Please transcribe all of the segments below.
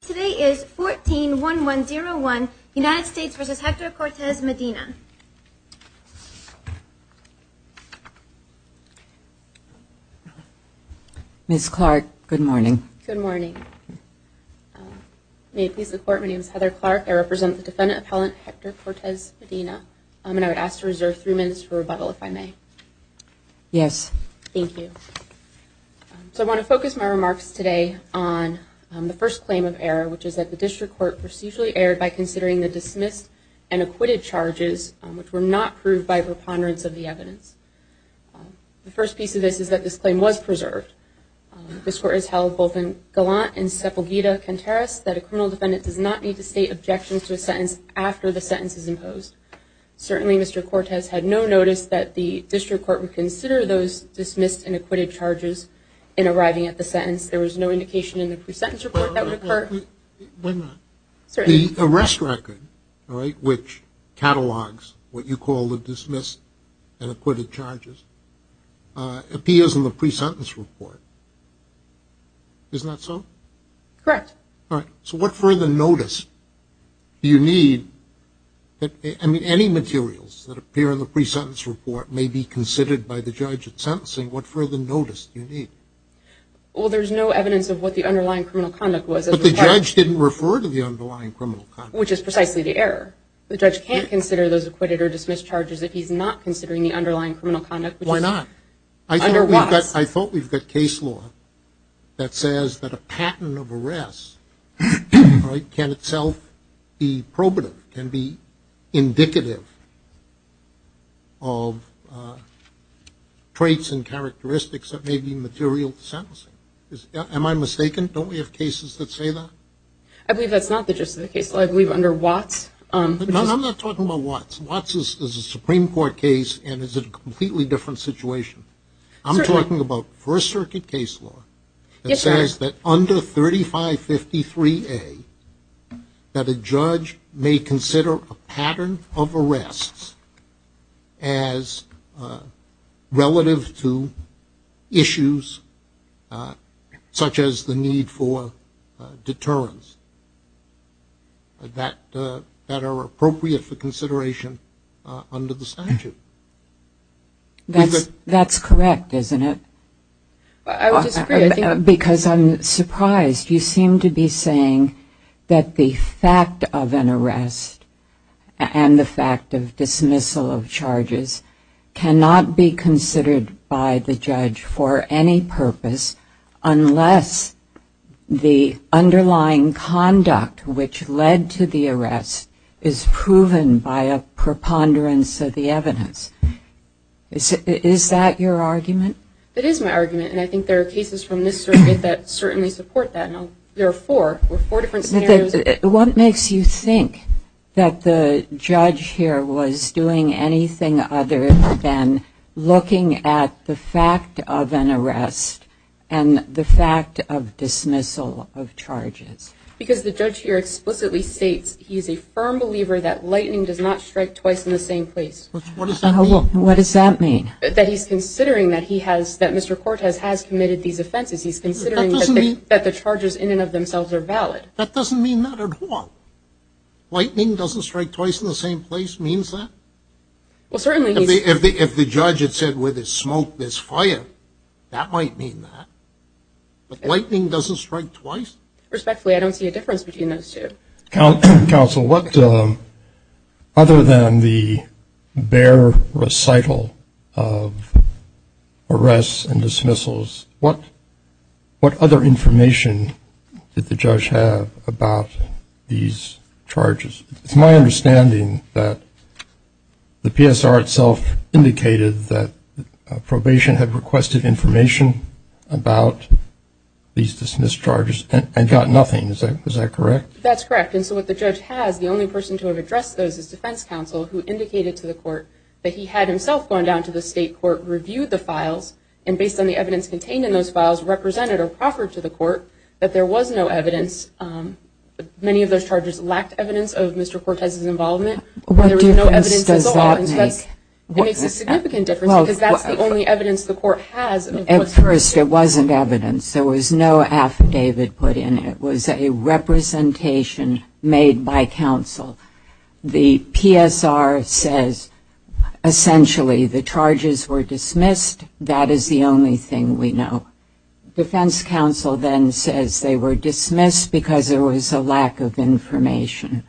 Today is 14-1101, United States v. Hector Cortes-Medina. Ms. Clark, good morning. Good morning. May it please the Court, my name is Heather Clark. I represent the Defendant Appellant Hector Cortes-Medina, and I would ask to reserve three minutes for rebuttal, if I may. Yes. Thank you. So I want to focus my remarks today on the first claim of error, which is that the District Court procedurally erred by considering the dismissed and acquitted charges, which were not proved by preponderance of the evidence. The first piece of this is that this claim was preserved. This Court has held both in Gallant and Sepulveda-Cantares that a criminal defendant does not need to state objections to a sentence after the sentence is imposed. Certainly Mr. Cortes had no notice that the District Court would consider those dismissed and acquitted charges in arriving at the sentence. There was no indication in the pre-sentence report that would occur. Why not? The arrest record, right, which catalogs what you call the dismissed and acquitted charges, appears in the pre-sentence report. Isn't that so? Correct. All right. So what further notice do you need? I mean, any materials that appear in the pre-sentence report may be considered by the judge at sentencing. What further notice do you need? Well, there's no evidence of what the underlying criminal conduct was. But the judge didn't refer to the underlying criminal conduct. Which is precisely the error. The judge can't consider those acquitted or dismissed charges if he's not considering the underlying criminal conduct. Why not? I thought we've got case law that says that a patent of arrest can itself be probative, can be indicative of traits and characteristics that may be material to sentencing. Am I mistaken? Don't we have cases that say that? I believe that's not the gist of the case law. I believe under Watts. No, I'm not talking about Watts. Watts is a Supreme Court case and is a completely different situation. I'm talking about First Circuit case law. Yes, sir. It says that under 3553A that a judge may consider a pattern of arrests as relative to issues such as the need for deterrence. That are appropriate for consideration under the statute. That's correct, isn't it? I would disagree. Because I'm surprised. You seem to be saying that the fact of an arrest and the fact of dismissal of charges cannot be considered by the judge for any purpose unless the underlying conduct which led to the arrest is proven by a preponderance of the evidence. Is that your argument? It is my argument. And I think there are cases from this circuit that certainly support that. There are four. There are four different scenarios. What makes you think that the judge here was doing anything other than looking at the fact of an arrest and the fact of dismissal of charges? Because the judge here explicitly states he's a firm believer that lightning does not strike twice in the same place. What does that mean? What does that mean? That he's considering that he has, that Mr. Cortez has committed these offenses. He's considering that the charges in and of themselves are valid. That doesn't mean that at all. Lightning doesn't strike twice in the same place means that? Well, certainly he's. If the judge had said where there's smoke there's fire, that might mean that. But lightning doesn't strike twice? Respectfully, I don't see a difference between those two. Counsel, what other than the bare recital of arrests and dismissals, what other information did the judge have about these charges? It's my understanding that the PSR itself indicated that probation had requested information about these dismissed charges and got nothing. Is that correct? That's correct. And so what the judge has, the only person to have addressed those is defense counsel, who indicated to the court that he had himself gone down to the state court, reviewed the files, and based on the evidence contained in those files, represented or proffered to the court that there was no evidence. Many of those charges lacked evidence of Mr. Cortez's involvement. What difference does that make? It makes a significant difference because that's the only evidence the court has. At first it wasn't evidence. There was no affidavit put in. It was a representation made by counsel. The PSR says essentially the charges were dismissed. That is the only thing we know. Defense counsel then says they were dismissed because there was a lack of information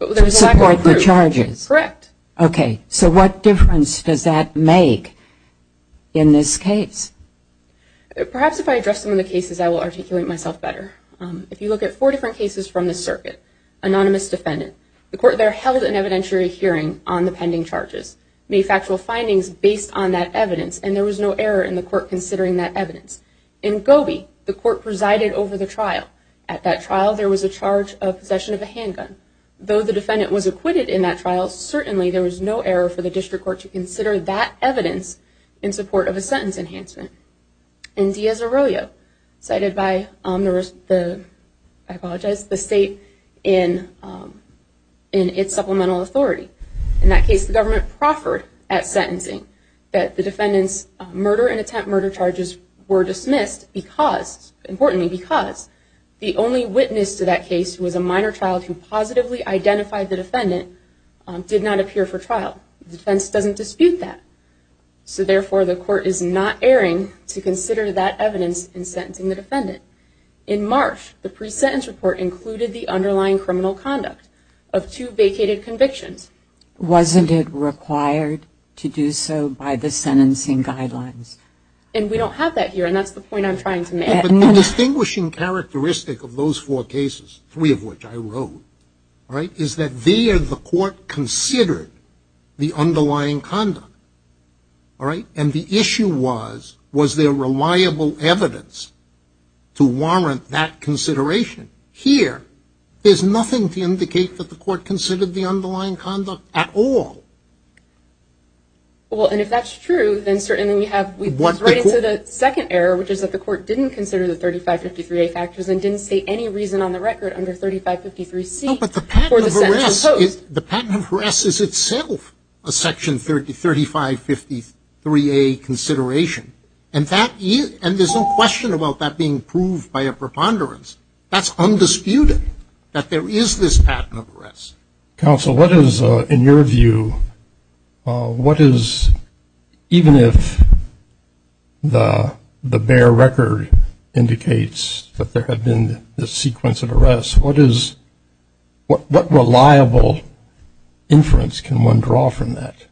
to support the charges. Correct. Okay. So what difference does that make in this case? Perhaps if I address some of the cases, I will articulate myself better. If you look at four different cases from the circuit, anonymous defendant, the court there held an evidentiary hearing on the pending charges, made factual findings based on that evidence, and there was no error in the court considering that evidence. In Gobi, the court presided over the trial. At that trial, there was a charge of possession of a handgun. Though the defendant was acquitted in that trial, certainly there was no error for the district court to consider that evidence in support of a sentence enhancement. In Diaz-Arroyo, cited by the state in its supplemental authority, in that case the government proffered at sentencing that the defendant's murder and attempt murder charges were dismissed because, importantly because, the only witness to that case was a minor child who positively identified the defendant and did not appear for trial. The defense doesn't dispute that. So, therefore, the court is not erring to consider that evidence in sentencing the defendant. In Marsh, the pre-sentence report included the underlying criminal conduct of two vacated convictions. Wasn't it required to do so by the sentencing guidelines? And we don't have that here, and that's the point I'm trying to make. But the distinguishing characteristic of those four cases, three of which I wrote, is that there the court considered the underlying conduct. And the issue was, was there reliable evidence to warrant that consideration? Here, there's nothing to indicate that the court considered the underlying conduct at all. Well, and if that's true, then certainly we have right into the second error, which is that the court didn't consider the 3553A factors and didn't state any reason on the record under 3553C for the sentencing. No, but the patent of arrest is itself a Section 3553A consideration. And there's no question about that being proved by a preponderance. That's undisputed, that there is this patent of arrest. Counsel, what is, in your view, what is, even if the bare record indicates that there have been this sequence of arrests, what is, what reliable inference can one draw from that?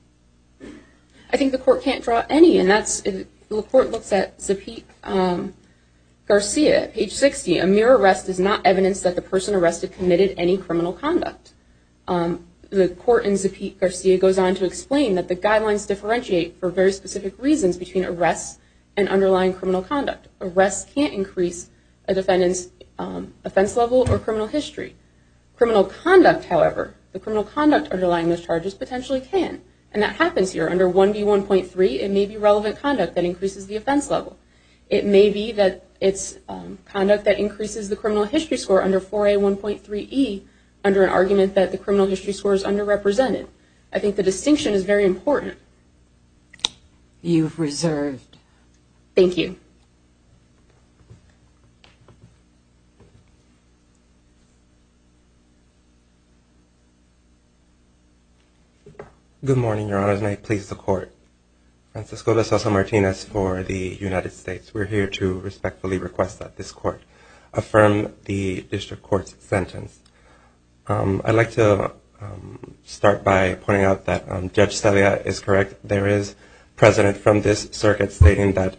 I think the court can't draw any, and that's, the court looks at Zapit Garcia, page 60. A mere arrest is not evidence that the person arrested committed any criminal conduct. The court in Zapit Garcia goes on to explain that the guidelines differentiate for very specific reasons between arrests and underlying criminal conduct. Arrests can't increase a defendant's offense level or criminal history. Criminal conduct, however, the criminal conduct underlying those charges potentially can. And that happens here. Under 1B1.3, it may be relevant conduct that increases the offense level. It may be that it's conduct that increases the criminal history score under 4A1.3E under an argument that the criminal history score is underrepresented. I think the distinction is very important. You've reserved. Thank you. Francisco de Sousa Martinez for the United States. We're here to respectfully request that this court affirm the district court's sentence. I'd like to start by pointing out that Judge Celia is correct. There is precedent from this circuit stating that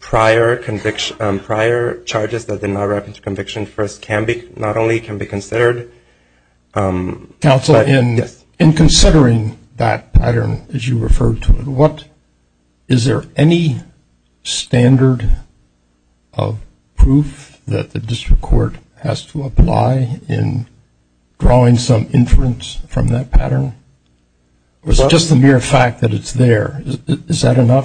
prior conviction, prior charges that did not wrap into conviction first can be, not only can be considered. Counsel, in considering that pattern, as you referred to it, is there any standard of proof that the district court has to apply in drawing some inference from that pattern? Or is it just the mere fact that it's there? Well,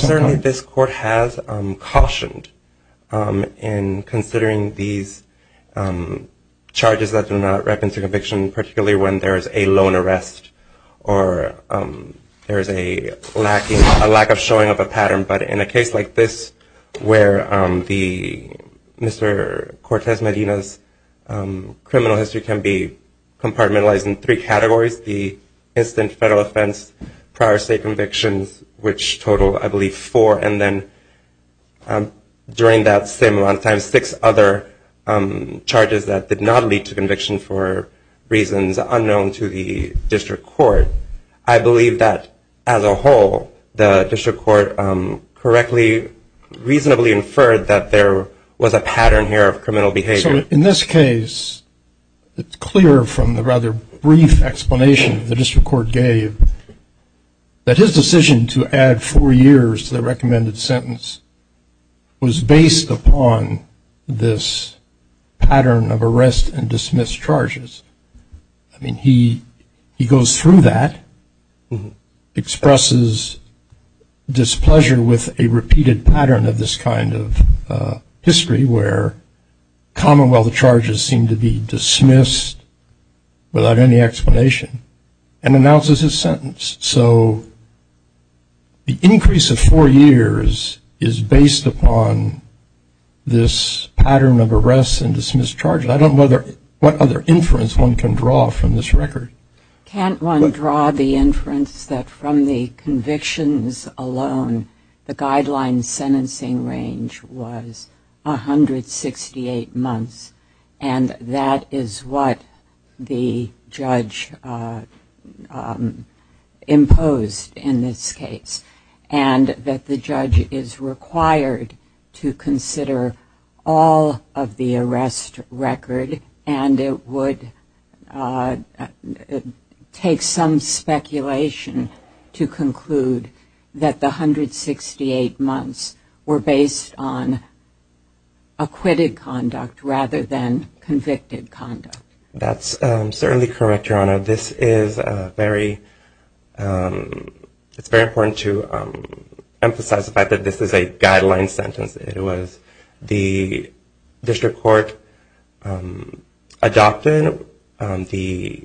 certainly this court has cautioned in considering these charges that do not wrap into conviction, particularly when there is a loan arrest or there is a lack of showing of a pattern. But in a case like this where Mr. Cortez Medina's criminal history can be compartmentalized in three categories, the instant federal offense, prior state convictions, which total, I believe, four, and then during that same amount of time six other charges that did not lead to conviction for reasons unknown to the district court, I believe that as a whole the district court correctly, reasonably inferred that there was a pattern here of criminal behavior. So in this case, it's clear from the rather brief explanation the district court gave that his decision to add four years to the recommended sentence was based upon this pattern of arrest and dismiss charges. I mean, he goes through that, expresses displeasure with a repeated pattern of this kind of history where commonwealth charges seem to be dismissed without any explanation, and announces his sentence. So the increase of four years is based upon this pattern of arrests and dismiss charges. I don't know what other inference one can draw from this record. Can't one draw the inference that from the convictions alone the guideline sentencing range was 168 months, and that is what the judge imposed in this case, and that the judge is required to consider all of the arrest record, and it would take some speculation to conclude that the 168 months were based on acquitted conduct rather than convicted conduct? That's certainly correct, Your Honor. This is very important to emphasize the fact that this is a guideline sentence. It was the district court adopted the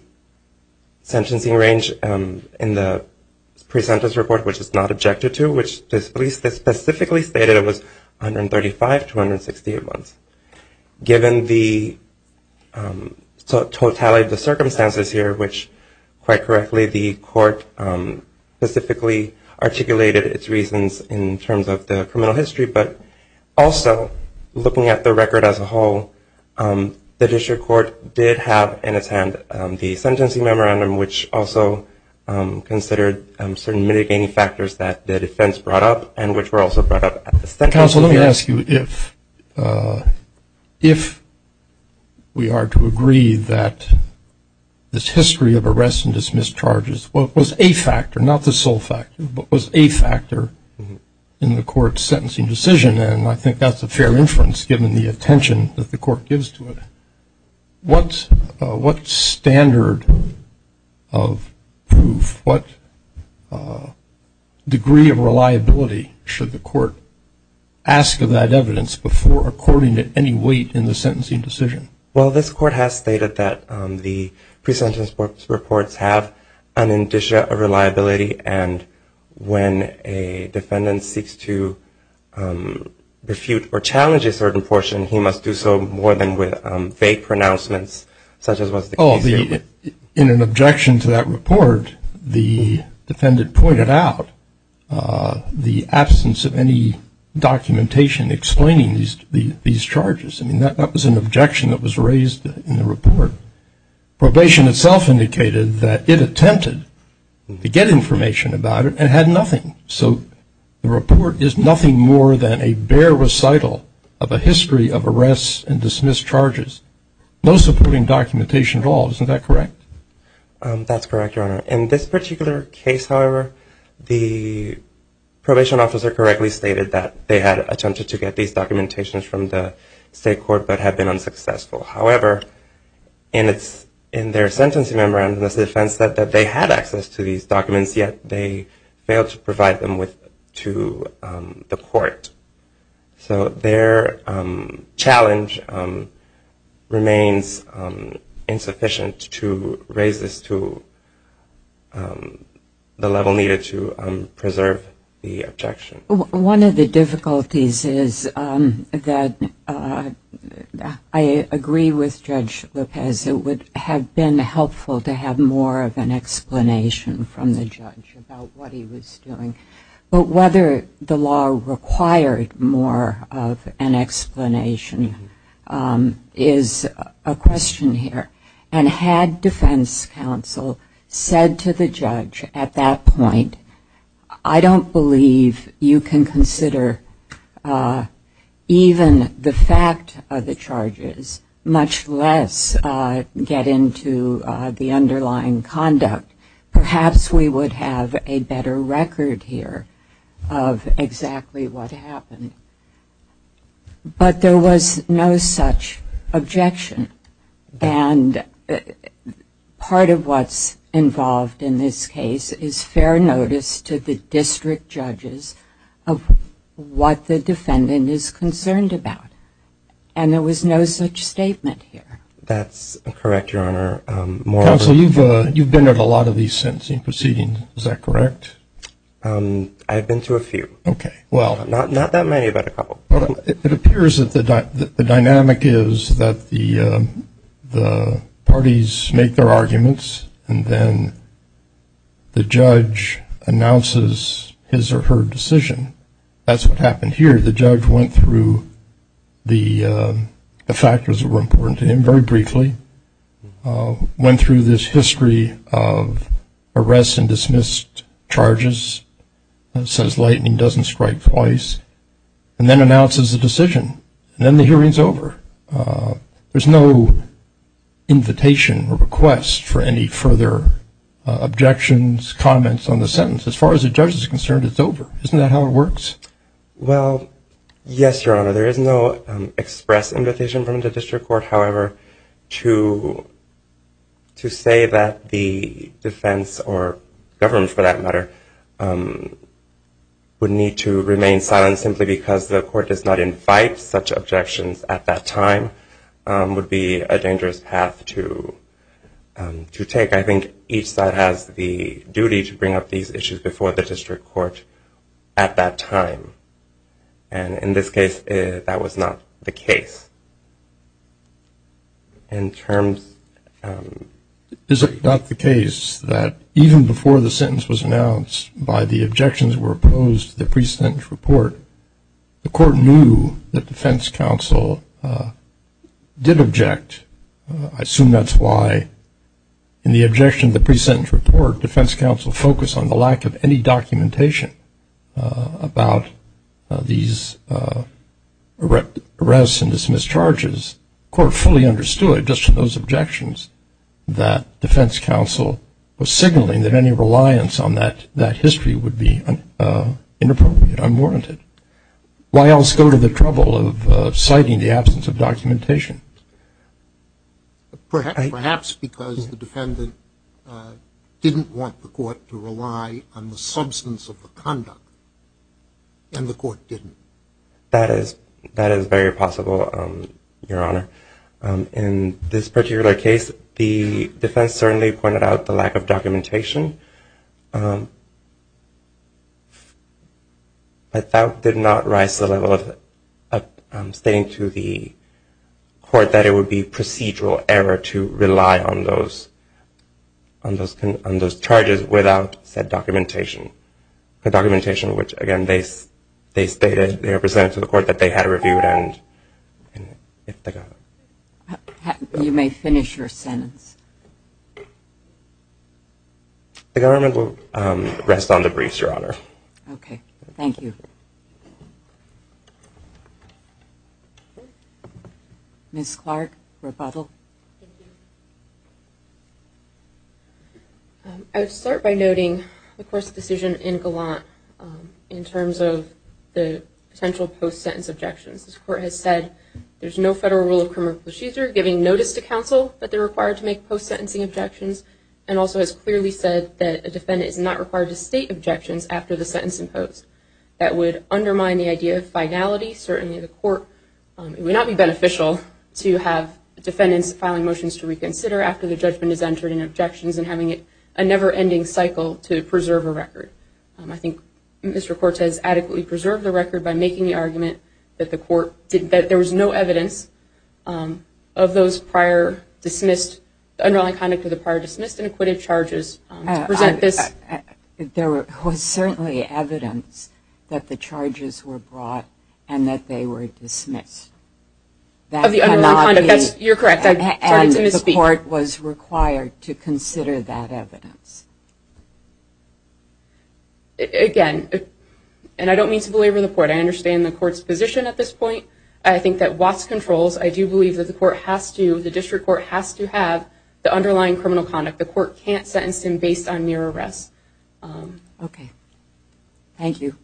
sentencing range in the pre-sentence report, which is not objected to, which specifically stated it was 135 to 168 months. Given the totality of the circumstances here, which quite correctly the court specifically articulated its reasons in terms of the criminal history, but also looking at the record as a whole, the district court did have in its hand the sentencing memorandum, which also considered certain mitigating factors that the defense brought up and which were also brought up. Counsel, let me ask you if we are to agree that this history of arrests and dismissed charges was a factor, not the sole factor, but was a factor in the court's sentencing decision, and I think that's a fair inference given the attention that the court gives to it. What standard of proof, what degree of reliability should the court ask of that evidence before according to any weight in the sentencing decision? Well, this court has stated that the pre-sentence reports have an indicia of reliability, and when a defendant seeks to refute or challenge a certain portion, he must do so more than with vague pronouncements such as was the case here. In an objection to that report, the defendant pointed out the absence of any documentation explaining these charges. I mean, that was an objection that was raised in the report. Probation itself indicated that it attempted to get information about it and had nothing, so the report is nothing more than a bare recital of a history of arrests and dismissed charges, no supporting documentation at all. Isn't that correct? That's correct, Your Honor. In this particular case, however, the probation officer correctly stated that they had attempted to get these However, in their sentencing memorandum, the defendant said that they had access to these documents, yet they failed to provide them to the court. So their challenge remains insufficient to raise this to the level needed to preserve the objection. One of the difficulties is that I agree with Judge Lopez. It would have been helpful to have more of an explanation from the judge about what he was doing, but whether the law required more of an explanation is a question here, and had defense counsel said to the judge at that point, I don't believe you can consider even the fact of the charges, much less get into the underlying conduct, perhaps we would have a better record here of exactly what happened. But there was no such objection, and part of what's involved in this case is fair notice to the district judges of what the defendant is concerned about, and there was no such statement here. That's correct, Your Honor. Counsel, you've been at a lot of these sentencing proceedings, is that correct? I've been to a few. Okay. Not that many, but a couple. It appears that the dynamic is that the parties make their arguments, and then the judge announces his or her decision. That's what happened here. The judge went through the factors that were important to him very briefly, went through this history of arrests and dismissed charges, says lightening doesn't strike twice, and then announces the decision. And then the hearing's over. There's no invitation or request for any further objections, comments on the sentence. As far as the judge is concerned, it's over. Isn't that how it works? Well, yes, Your Honor. There is no express invitation from the district court, however, to say that the defense or government, for that matter, would need to remain silent, simply because the court does not invite such objections at that time would be a dangerous path to take. I think each side has the duty to bring up these issues before the district court at that time. And in this case, that was not the case. Is it not the case that even before the sentence was announced, by the objections that were opposed to the pre-sentence report, the court knew that defense counsel did object? I assume that's why in the objection to the pre-sentence report, defense counsel focused on the lack of any documentation about these arrests and dismissed charges, the court fully understood, just to those objections, that defense counsel was signaling that any reliance on that history would be inappropriate, unwarranted. Why else go to the trouble of citing the absence of documentation? Perhaps because the defendant didn't want the court to rely on the substance of the conduct, and the court didn't. That is very possible, Your Honor. In this particular case, the defense certainly pointed out the lack of documentation. But that did not rise to the level of stating to the court that it would be procedural error to rely on those charges without said documentation. The documentation which, again, they stated, they presented to the court that they had reviewed. You may finish your sentence. The government will rest on the briefs, Your Honor. Okay. Thank you. Ms. Clark, rebuttal. Thank you. I would start by noting, of course, the decision in Gallant, in terms of the potential post-sentence objections. This court has said there's no federal rule of criminal procedure giving notice to counsel that they're required to make post-sentencing objections, and also has clearly said that a defendant is not required to state objections after the sentence imposed. That would undermine the idea of finality. Certainly, the court, it would not be beneficial to have defendants filing motions to reconsider after the judgment is entered in objections and having a never-ending cycle to preserve a record. I think Mr. Cortes adequately preserved the record by making the argument that there was no evidence of those prior dismissed, underlying conduct of the prior dismissed and acquitted charges to present this. There was certainly evidence that the charges were brought and that they were dismissed. Of the underlying conduct. You're correct. I started to misspeak. And the court was required to consider that evidence. Again, and I don't mean to belabor the court. I understand the court's position at this point. I think that Watts controls. I do believe that the court has to, the district court has to have the underlying criminal conduct. The court can't sentence him based on mere arrest. Okay. Thank you.